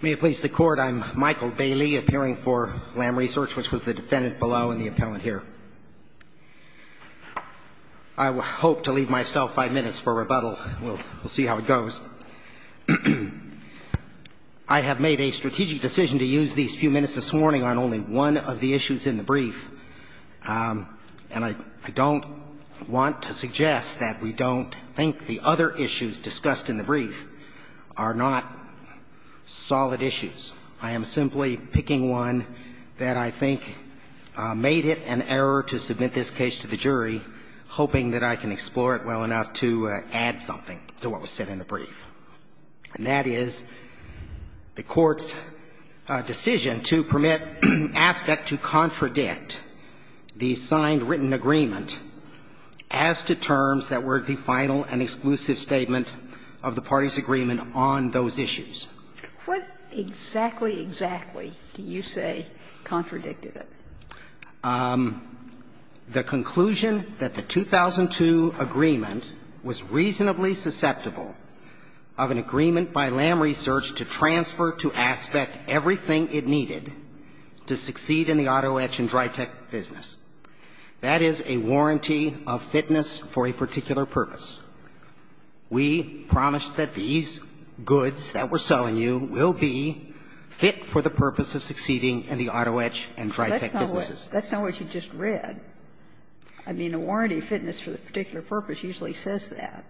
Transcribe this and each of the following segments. May it please the Court, I'm Michael Bailey, appearing for Lam Research, which was the defendant below and the appellant here. I hope to leave myself five minutes for rebuttal. We'll see how it goes. I have made a strategic decision to use these few minutes this morning on only one of the issues in the brief, and I don't want to suggest that we don't think the other issues discussed in the brief are not solid issues. I am simply picking one that I think made it an error to submit this case to the jury, hoping that I can explore it well enough to add something to what was said in the brief. And that is the Court's decision to permit Aspect to contradict the signed written agreement as to terms that were the final and exclusive statement of the party's agreement on those issues. What exactly, exactly do you say contradicted it? The conclusion that the 2002 agreement was reasonably susceptible of an agreement by Lam Research to transfer to Aspect everything it needed to succeed in the auto etch and dry tech business. That is a warranty of fitness for a particular purpose. We promise that these goods that we're selling you will be fit for the purpose of succeeding in the auto etch and dry tech business. That's not what you just read. I mean, a warranty of fitness for a particular purpose usually says that.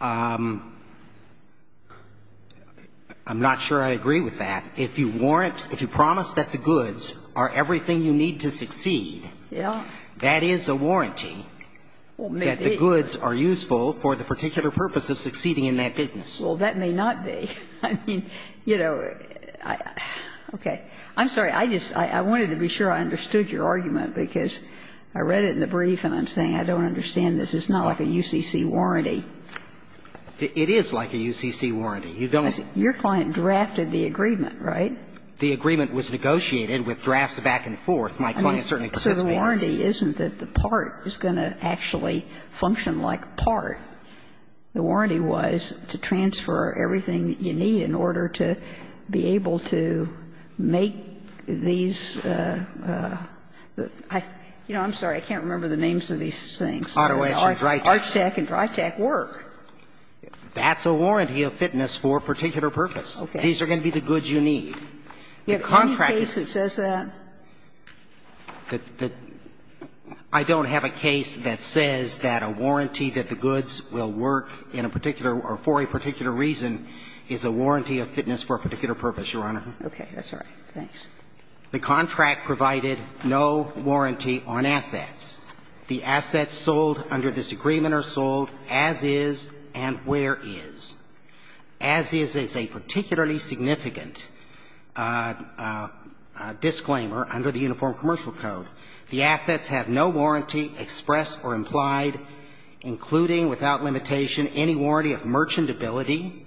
I'm not sure I agree with that. If you warrant, if you promise that the goods are everything you need to succeed, that is a warranty that the goods are useful for the particular purpose of succeeding in that business. Well, that may not be. I mean, you know, okay. I'm sorry. I just, I wanted to be sure I understood your argument because I read it in the brief and I'm saying I don't understand this. It's not like a UCC warranty. It is like a UCC warranty. You don't. Your client drafted the agreement, right? The agreement was negotiated with drafts back and forth. My client certainly participated. So the warranty isn't that the part is going to actually function like part. The warranty was to transfer everything you need in order to be able to make these the, you know, I'm sorry, I can't remember the names of these things. Auto etch and dry tech. Arch tech and dry tech work. That's a warranty of fitness for a particular purpose. Okay. These are going to be the goods you need. You have one case that says that? I don't have a case that says that a warranty that the goods will work in a particular or for a particular reason is a warranty of fitness for a particular purpose, Your Honor. Okay. That's all right. Thanks. The contract provided no warranty on assets. The assets sold under this agreement are sold as is and where is. As is is a particularly significant disclaimer under the Uniform Commercial Code. The assets have no warranty expressed or implied, including without limitation, any warranty of merchantability.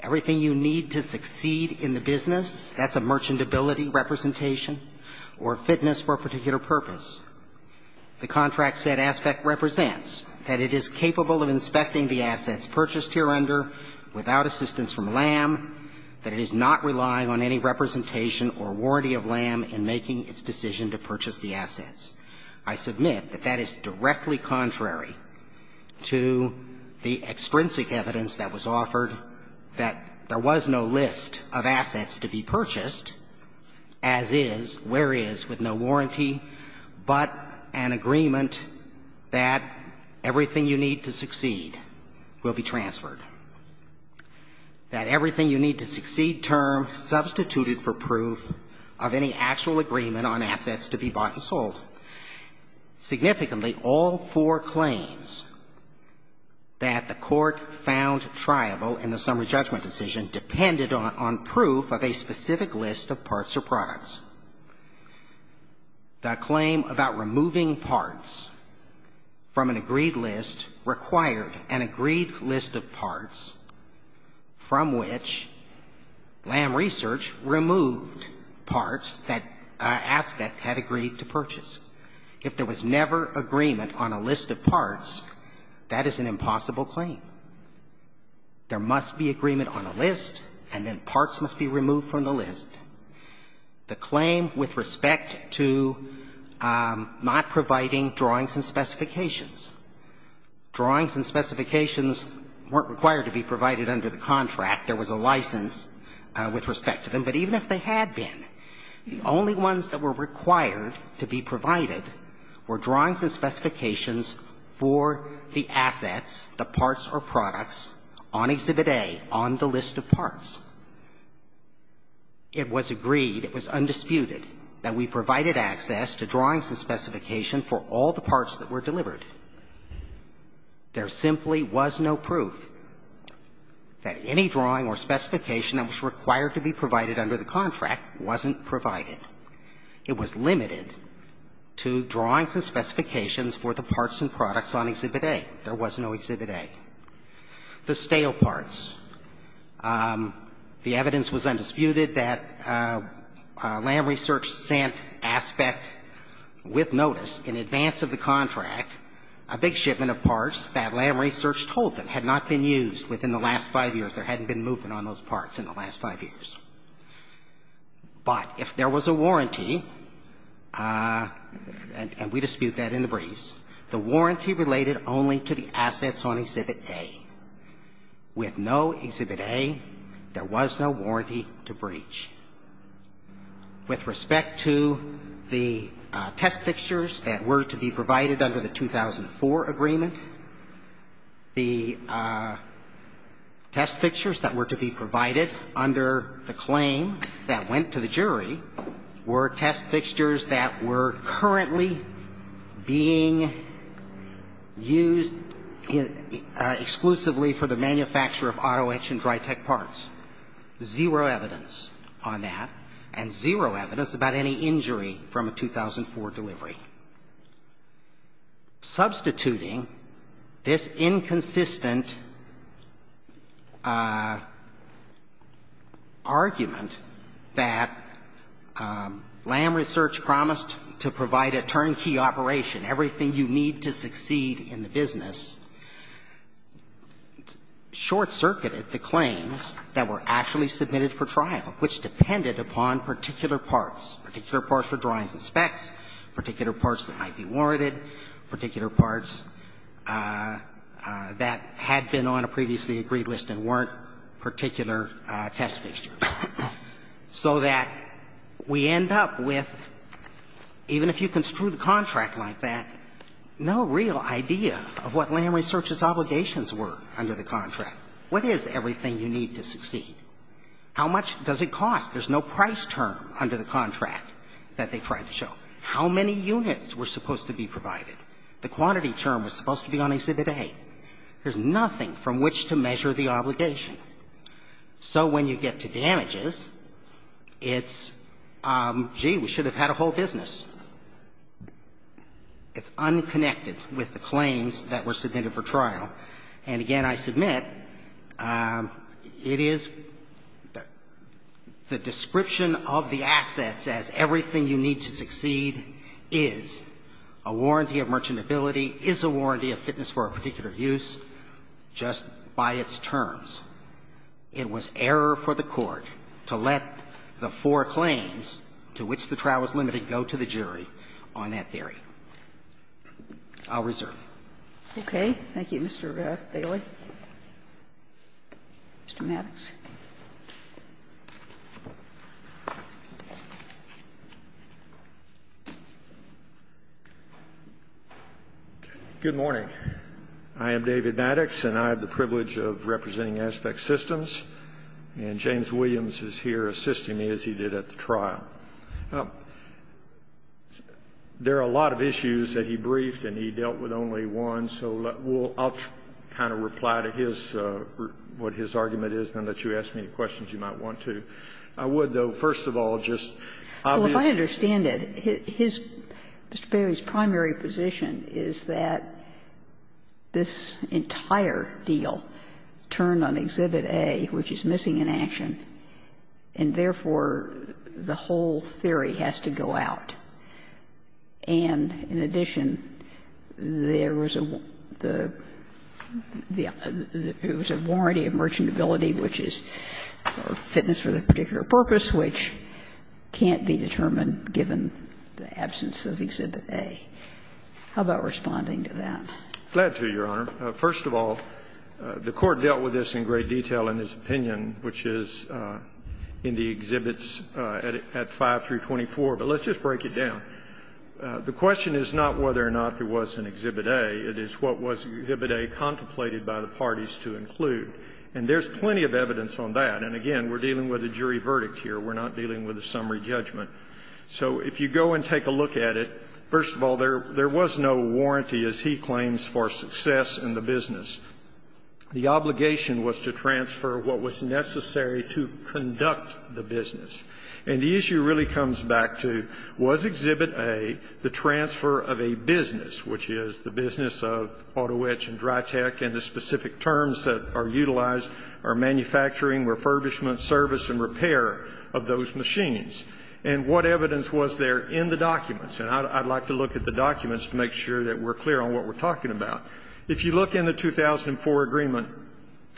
Everything you need to succeed in the business, that's a merchantability representation or fitness for a particular purpose. The contract said aspect represents that it is capable of inspecting the assets purchased here under without assistance from LAM, that it is not relying on any representation or warranty of LAM in making its decision to purchase the assets. I submit that that is directly contrary to the extrinsic evidence that was offered that there was no list of assets to be purchased as is, where is, with no warranty, but an agreement that everything you need to succeed will be transferred. That everything you need to succeed term substituted for proof of any actual agreement on assets to be bought and sold. Significantly, all four claims that the Court found triable in the summary judgment decision depended on proof of a specific list of parts or products. The claim about removing parts from an agreed list required an agreed list of parts from which LAM Research removed parts that aspect had agreed to purchase. If there was never agreement on a list of parts, that is an impossible claim. There must be agreement on a list, and then parts must be removed from the list. The claim with respect to not providing drawings and specifications. Drawings and specifications weren't required to be provided under the contract. There was a license with respect to them, but even if they had been, the only ones that were required to be provided were drawings and specifications for the assets, the parts or products, on Exhibit A, on the list of parts. It was agreed, it was undisputed that we provided access to drawings and specification for all the parts that were delivered. There simply was no proof that any drawing or specification that was required to be provided under the contract wasn't provided. It was limited to drawings and specifications for the parts and products on Exhibit A. There was no Exhibit A. The stale parts. The evidence was undisputed that LAM Research sent aspect with notice in advance of the contract, a big shipment of parts that LAM Research told them had not been used within the last five years. There hadn't been movement on those parts in the last five years. But if there was a warranty, and we dispute that in the briefs, the warranty related only to the assets on Exhibit A. With no Exhibit A, there was no warranty to breach. With respect to the test fixtures that were to be provided under the 2004 agreement, the test fixtures that were to be provided under the claim that went to the jury were test fixtures that were currently being used exclusively for the manufacture of auto etch and dry-tech parts. Zero evidence on that, and zero evidence about any injury from a 2004 delivery. Substituting this inconsistent argument that LAM Research had not provided any LAM Research promised to provide a turnkey operation, everything you need to succeed in the business, short-circuited the claims that were actually submitted for trial, which depended upon particular parts, particular parts for drawings and specs, particular parts that might be warranted, particular parts that had been on a previously agreed list and weren't particular test fixtures. So that we end up with, even if you construe the contract like that, no real idea of what LAM Research's obligations were under the contract. What is everything you need to succeed? How much does it cost? There's no price term under the contract that they tried to show. How many units were supposed to be provided? The quantity term was supposed to be on Exhibit A. There's nothing from which to measure the obligation. So when you get to damages, it's, gee, we should have had a whole business. It's unconnected with the claims that were submitted for trial. And again, I submit it is the description of the assets as everything you need to succeed is a warranty of merchantability, is a warranty of fitness for a particular use just by its terms. It was error for the Court to let the four claims to which the trial was limited go to the jury on that theory. I'll reserve. Okay. Thank you, Mr. Bailey. Mr. Maddox. Good morning. I am David Maddox, and I have the privilege of representing Aspect Systems. And James Williams is here assisting me, as he did at the trial. There are a lot of issues that he briefed, and he dealt with only one. So I'll kind of reply to his, what his argument is, and then let you ask me any questions you might want to. I would, though, first of all, just obviously ---- Well, if I understand it, his, Mr. Bailey's, primary position is that this entire deal turned on Exhibit A, which is missing in action, and therefore, the whole theory has to go out. And in addition, there was a warranty of merchantability, which is fitness for a particular purpose, which can't be determined given the absence of Exhibit A. How about responding to that? Glad to, Your Honor. First of all, the Court dealt with this in great detail in its opinion, which is in the Exhibits at 5 through 24, but let's just break it down. The question is not whether or not there was an Exhibit A. It is what was Exhibit A contemplated by the parties to include. And there's plenty of evidence on that. And again, we're dealing with a jury verdict here. We're not dealing with a summary judgment. So if you go and take a look at it, first of all, there was no warranty, as he claims, for success in the business. The obligation was to transfer what was necessary to conduct the business. And the issue really comes back to, was Exhibit A the transfer of a business, which is the business of Autoetch and Dry Tech, and the specific terms that are utilized are manufacturing, refurbishment, service, and repair of those machines? And what evidence was there in the documents? And I'd like to look at the documents to make sure that we're clear on what we're talking about. If you look in the 2004 agreement,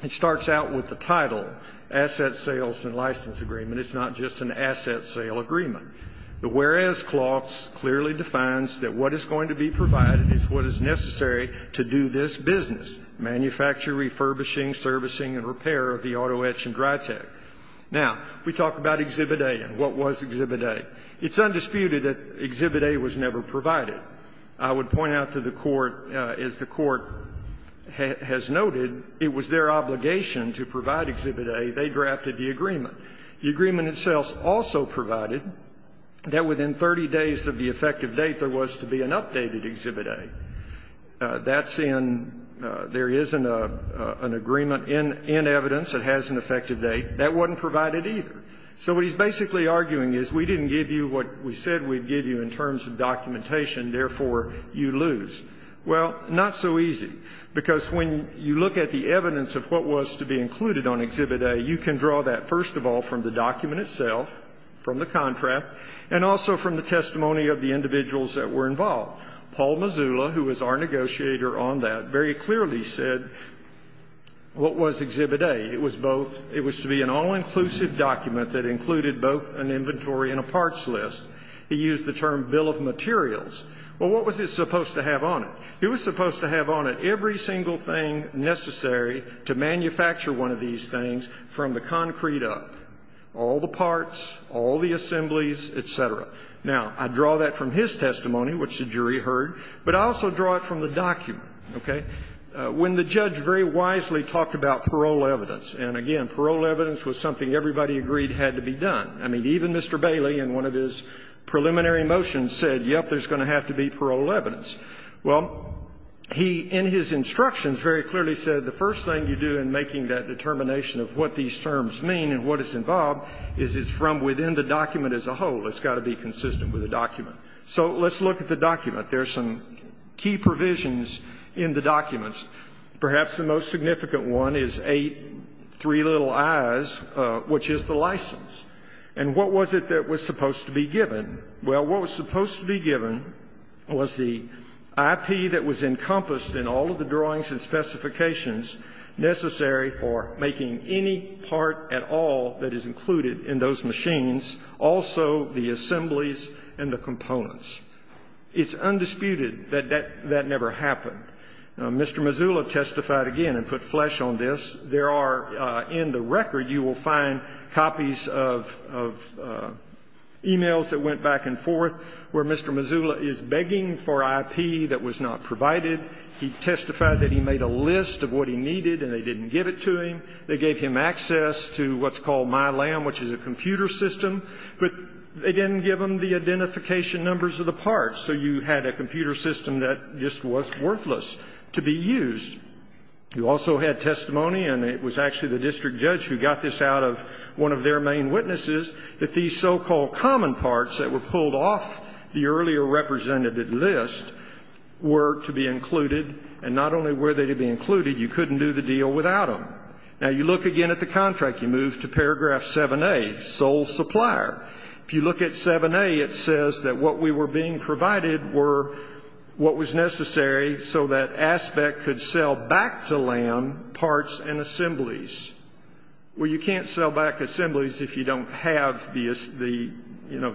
it starts out with the title, Asset Sales and License Agreement. It's not just an asset sale agreement. The whereas clause clearly defines that what is going to be provided is what is necessary to do this business, manufacture, refurbishing, servicing, and repair of the Autoetch and Dry Tech. Now, we talk about Exhibit A and what was Exhibit A. It's undisputed that Exhibit A was never provided. I would point out to the Court, as the Court has noted, it was their obligation to provide Exhibit A. They drafted the agreement. The agreement itself also provided that within 30 days of the effective date, there was to be an updated Exhibit A. That's in there isn't an agreement in evidence that has an effective date. That wasn't provided either. So what he's basically arguing is we didn't give you what we said we'd give you in terms of documentation. Therefore, you lose. Well, not so easy, because when you look at the evidence of what was to be included on Exhibit A, you can draw that, first of all, from the document itself, from the contract, and also from the testimony of the individuals that were involved. Paul Mazula, who was our negotiator on that, very clearly said what was Exhibit A. It was to be an all-inclusive document that included both an inventory and a parts list. He used the term bill of materials. Well, what was it supposed to have on it? It was supposed to have on it every single thing necessary to manufacture one of these things from the concrete up, all the parts, all the assemblies, et cetera. Now, I draw that from his testimony, which the jury heard, but I also draw it from the document, okay? When the judge very wisely talked about parole evidence, and again, parole evidence was something everybody agreed had to be done. I mean, even Mr. Bailey in one of his preliminary motions said, yep, there's going to have to be parole evidence. Well, he, in his instructions, very clearly said the first thing you do in making that determination of what these terms mean and what is involved is it's from within the document as a whole. It's got to be consistent with the document. So let's look at the document. There are some key provisions in the documents. Perhaps the most significant one is 8, 3 little i's, which is the license. And what was it that was supposed to be given? Well, what was supposed to be given was the IP that was encompassed in all of the drawings and specifications necessary for making any part at all that is included in those machines, also the assemblies and the components. It's undisputed that that never happened. Mr. Mazzullo testified again and put flesh on this. There are in the record, you will find copies of emails that went back and forth where Mr. Mazzullo is begging for IP that was not provided. He testified that he made a list of what he needed and they didn't give it to him. They gave him access to what's called MyLAM, which is a computer system, but they didn't give him the identification numbers of the parts. So you had a computer system that just was worthless to be used. You also had testimony, and it was actually the district judge who got this out of one of their main witnesses, that these so-called common parts that were pulled off the earlier representative list were to be included. And not only were they to be included, you couldn't do the deal without them. Now, you look again at the contract. You move to paragraph 7A, sole supplier. If you look at 7A, it says that what we were being provided were what was necessary so that ASPEC could sell back to LAM parts and assemblies. Well, you can't sell back assemblies if you don't have the, you know,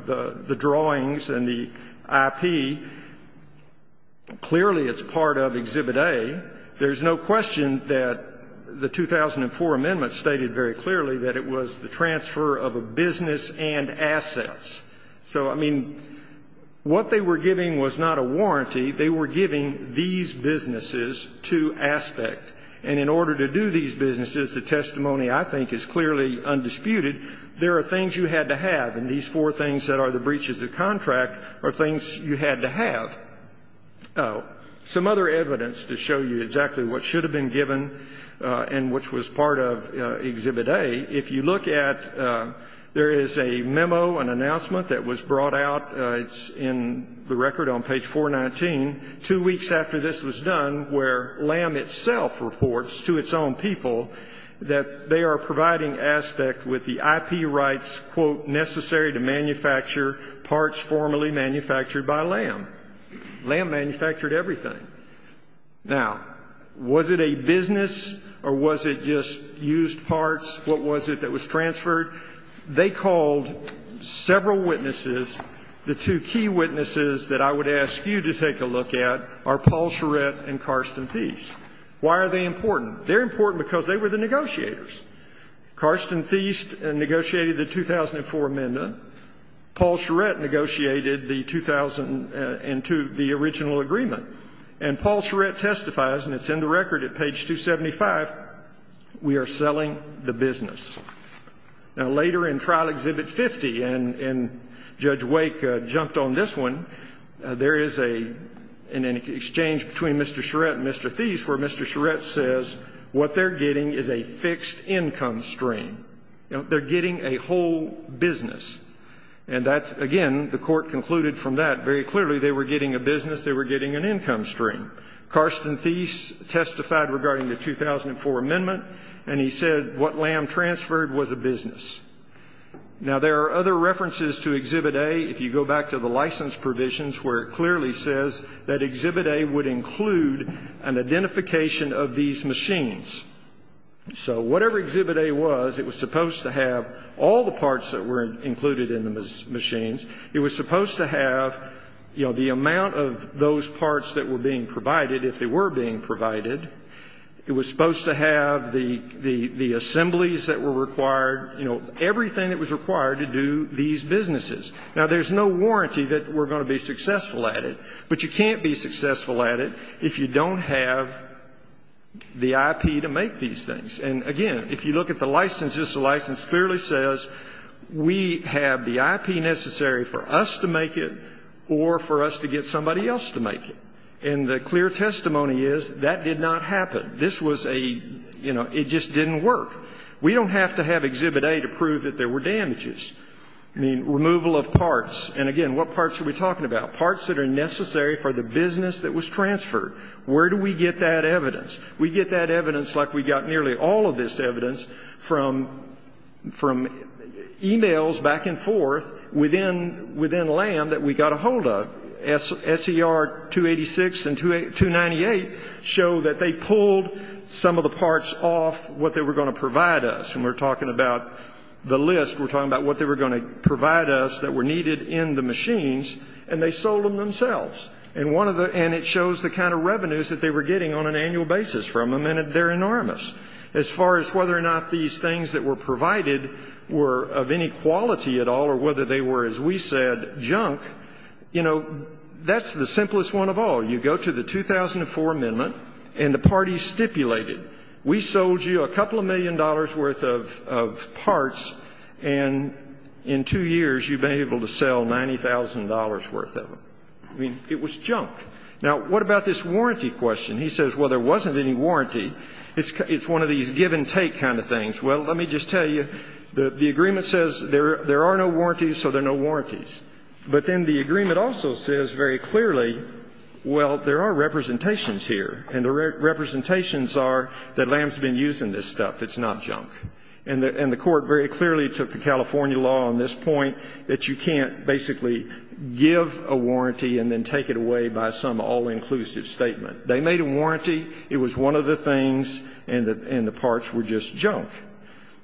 the drawings and the IP. Clearly, it's part of Exhibit A. There's no question that the 2004 amendment stated very clearly that it was the transfer of a business and assets. So, I mean, what they were giving was not a warranty. They were giving these businesses to ASPEC. And in order to do these businesses, the testimony, I think, is clearly undisputed. There are things you had to have. And these four things that are the breaches of contract are things you had to have. Some other evidence to show you exactly what should have been given and which was part of Exhibit A, if you look at, there is a memo, an announcement that was brought out, it's in the record on page 419, two weeks after this was done where LAM itself reports to its own people that they are providing ASPEC with the IP rights, quote, necessary to manufacture parts formerly manufactured by LAM. LAM manufactured everything. Now, was it a business or was it just used parts? What was it that was transferred? They called several witnesses. The two key witnesses that I would ask you to take a look at are Paul Charette and Karsten Thiest. Why are they important? They're important because they were the negotiators. Karsten Thiest negotiated the 2004 amendment. Paul Charette negotiated the 2002, the original agreement. And Paul Charette testifies, and it's in the record at page 275, we are selling the business. Now, later in Trial Exhibit 50, and Judge Wake jumped on this one, there is an exchange between Mr. Charette and Mr. Thiest where Mr. Charette says what they're getting is a fixed income stream. They're getting a whole business. And that's, again, the Court concluded from that very clearly they were getting a business, they were getting an income stream. Karsten Thiest testified regarding the 2004 amendment, and he said what LAM transferred was a business. Now, there are other references to Exhibit A if you go back to the license provisions where it clearly says that Exhibit A would include an identification of these machines. So whatever Exhibit A was, it was supposed to have all the parts that were included in the machines. It was supposed to have, you know, the amount of those parts that were being provided, if they were being provided. It was supposed to have the assemblies that were required, you know, everything that was required to do these businesses. Now, there's no warranty that we're going to be successful at it, but you can't be successful at it if you don't have the IP to make these things. And, again, if you look at the license, this license clearly says we have the IP necessary for us to make it or for us to get somebody else to make it. And the clear testimony is that did not happen. This was a, you know, it just didn't work. We don't have to have Exhibit A to prove that there were damages. I mean, removal of parts. And, again, what parts are we talking about? Parts that are necessary for the business that was transferred. Where do we get that evidence? We get that evidence like we got nearly all of this evidence from emails back and forth within LAM that we got a hold of. SER 286 and 298 show that they pulled some of the parts off what they were going to provide us. And we're talking about the list. We're talking about what they were going to provide us that were needed in the machines, and they sold them themselves. And one of the, and it shows the kind of revenues that they were getting on an annual basis from them, and they're enormous. As far as whether or not these things that were provided were of any quality at all or whether they were, as we said, junk, you know, that's the simplest one of all. You go to the 2004 amendment, and the parties stipulated, we sold you a couple of million dollars' worth of parts, and in two years you've been able to sell $90,000 worth of them. I mean, it was junk. Now, what about this warranty question? He says, well, there wasn't any warranty. It's one of these give and take kind of things. Well, let me just tell you, the agreement says there are no warranties, so there are no warranties. But then the agreement also says very clearly, well, there are representations here, and the representations are that Lamb's been using this stuff. It's not junk. And the Court very clearly took the California law on this point that you can't basically give a warranty and then take it away by some all-inclusive statement. They made a warranty. It was one of the things, and the parts were just junk.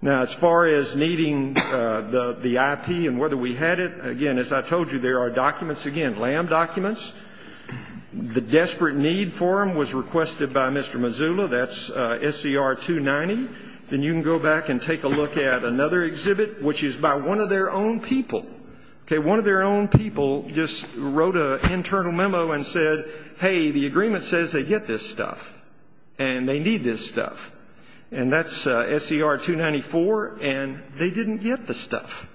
Now, as far as needing the IP and whether we had it, again, as I told you, there are documents, again, Lamb documents. The desperate need for them was requested by Mr. Mazzullo. That's SCR 290. Then you can go back and take a look at another exhibit, which is by one of their own people. Okay, one of their own people just wrote an internal memo and said, hey, the agreement says they get this stuff, and they need this stuff. And that's SCR 294, and they didn't get the stuff.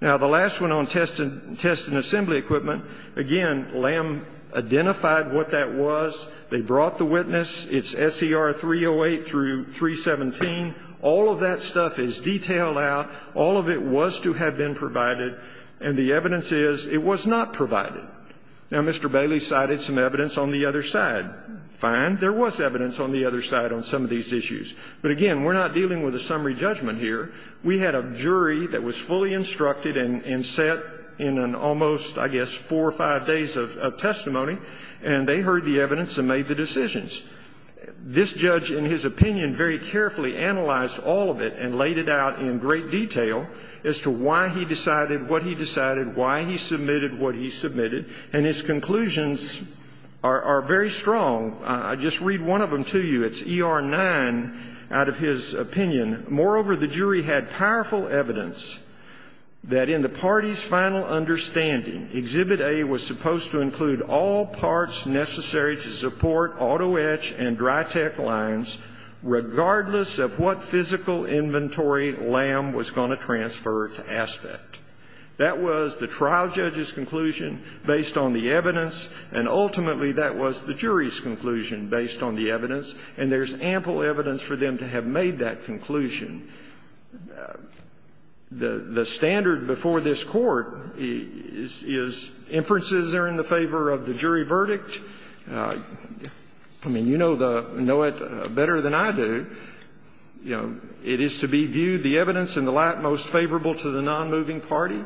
Now, the last one on test and assembly equipment, again, Lamb identified what that was. They brought the witness. It's SCR 308 through 317. All of that stuff is detailed out. All of it was to have been provided, and the evidence is it was not provided. Now, Mr. Bailey cited some evidence on the other side. Fine. There was evidence on the other side on some of these issues. But, again, we're not dealing with a summary judgment here. We had a jury that was fully instructed and set in an almost, I guess, four or five days of testimony, and they heard the evidence and made the decisions. This judge, in his opinion, very carefully analyzed all of it and laid it out in great detail as to why he decided what he decided, why he submitted what he submitted. And his conclusions are very strong. I'll just read one of them to you. It's ER 9 out of his opinion. Moreover, the jury had powerful evidence that in the party's final understanding, Exhibit A was supposed to include all parts necessary to support auto etch and dry-tech lines, regardless of what physical inventory Lamb was going to transfer to Aspect. That was the trial judge's conclusion based on the evidence, and ultimately, that was the jury's conclusion based on the evidence. And there's ample evidence for them to have made that conclusion. The standard before this Court is inferences are in the favor of the jury verdict. I mean, you know it better than I do. It is to be viewed the evidence in the light most favorable to the nonmoving party.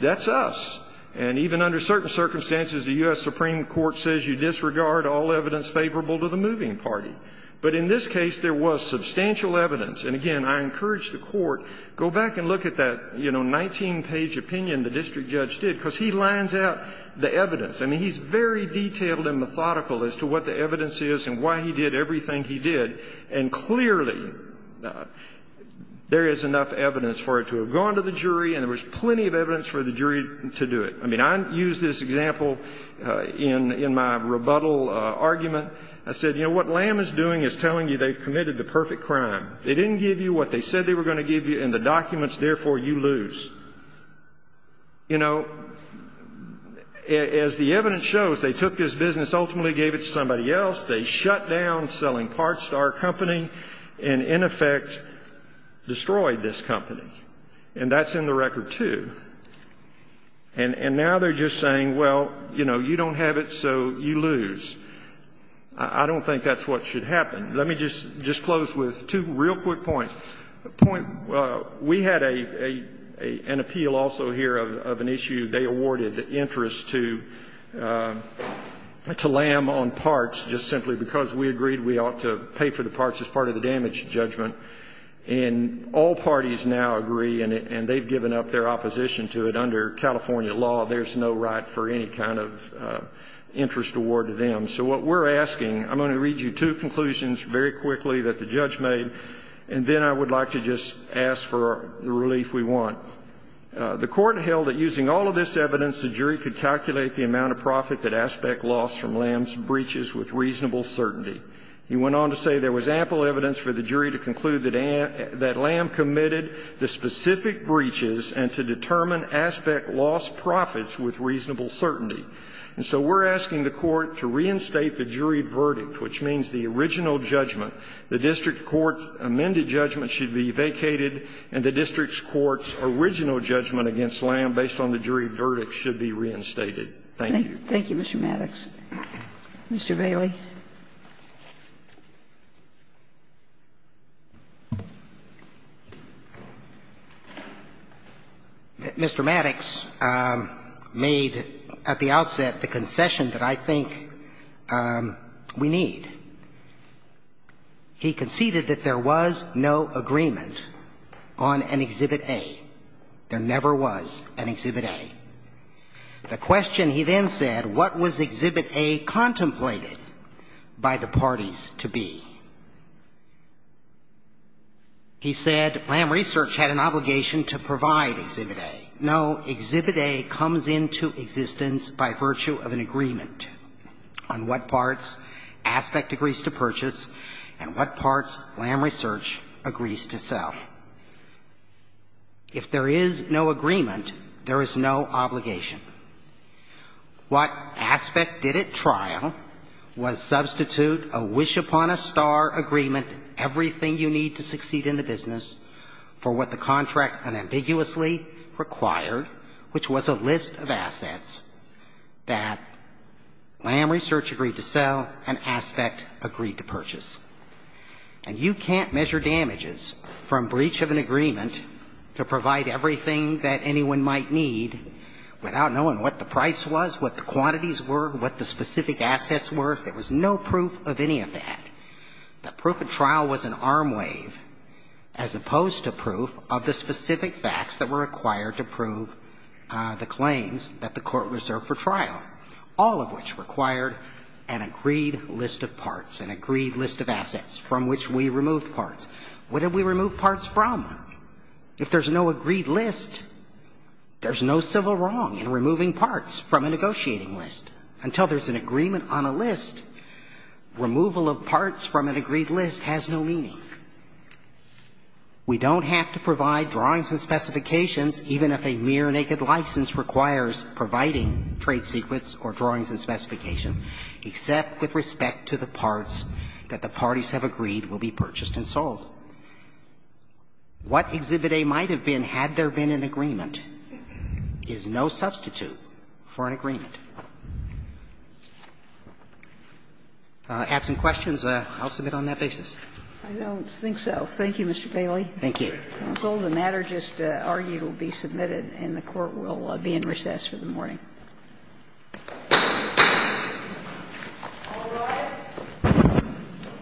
That's us. And even under certain circumstances, the U.S. Supreme Court says you disregard all evidence favorable to the moving party. But in this case, there was substantial evidence. And, again, I encourage the Court, go back and look at that, you know, 19-page opinion the district judge did, because he lines out the evidence. I mean, he's very detailed and methodical as to what the evidence is and why he did everything he did and clearly there is enough evidence for it to have gone to the jury and there was plenty of evidence for the jury to do it. I mean, I use this example in my rebuttal argument. I said, you know, what Lamb is doing is telling you they've committed the perfect crime. They didn't give you what they said they were going to give you in the documents, therefore, you lose. You know, as the evidence shows, they took this business, ultimately gave it to somebody else. They shut down selling parts to our company and, in effect, destroyed this company. And that's in the record, too. And now they're just saying, well, you know, you don't have it, so you lose. I don't think that's what should happen. Let me just close with two real quick points. We had an appeal also here of an issue. They awarded interest to Lamb on parts just simply because we agreed we ought to pay for the parts as part of the damage judgment. And all parties now agree, and they've given up their opposition to it under California law, there's no right for any kind of interest award to them. So what we're asking, I'm going to read you two conclusions very quickly that the judge made, and then I would like to just ask for the relief we want. The Court held that using all of this evidence, the jury could calculate the amount of profit that Aspect lost from Lamb's breaches with reasonable certainty. He went on to say there was ample evidence for the jury to conclude that Lamb committed the specific breaches and to determine Aspect lost profits with reasonable certainty. And so we're asking the Court to reinstate the jury verdict, which means the original judgment, the district court amended judgment, should be vacated and the district court's original judgment against Lamb based on the jury verdict should be reinstated. Thank you. Thank you, Mr. Maddox. Mr. Bailey. Mr. Maddox made at the outset the concession that I think we need. He conceded that there was no agreement on an Exhibit A. There never was an Exhibit A. The question he then said, what was Exhibit A contemplated by the parties to be? He said, Lamb Research had an obligation to provide Exhibit A. No Exhibit A comes into existence by virtue of an agreement on what parts Aspect agrees to purchase and what parts Lamb Research agrees to sell. If there is no agreement, there is no obligation. What Aspect did at trial was substitute a wish-upon-a-star agreement, everything you need to succeed in the business, for what the contract unambiguously required, which was a list of assets that Lamb Research agreed to sell and Aspect agreed to purchase. And you can't measure damages from breach of an agreement to provide everything that anyone might need without knowing what the price was, what the quantities were, what the specific assets were. There was no proof of any of that. The proof at trial was an arm wave as opposed to proof of the specific facts that were required to prove the claims that the Court reserved for trial, all of which required an agreed list of parts, an agreed list of assets from which we removed parts. What did we remove parts from? If there's no agreed list, there's no civil wrong in removing parts from a negotiating list. Until there's an agreement on a list, removal of parts from an agreed list has no meaning. We don't have to provide drawings and specifications, even if a mere naked license requires providing trade secrets or drawings and specifications, except with respect to the parts that the parties have agreed will be purchased and sold. What Exhibit A might have been had there been an agreement is no substitute for an agreement. If you have some questions, I'll submit on that basis. I don't think so. Thank you, Mr. Bailey. Thank you. Counsel, the matter just argued will be submitted, and the Court will be in recess for the morning. All rise.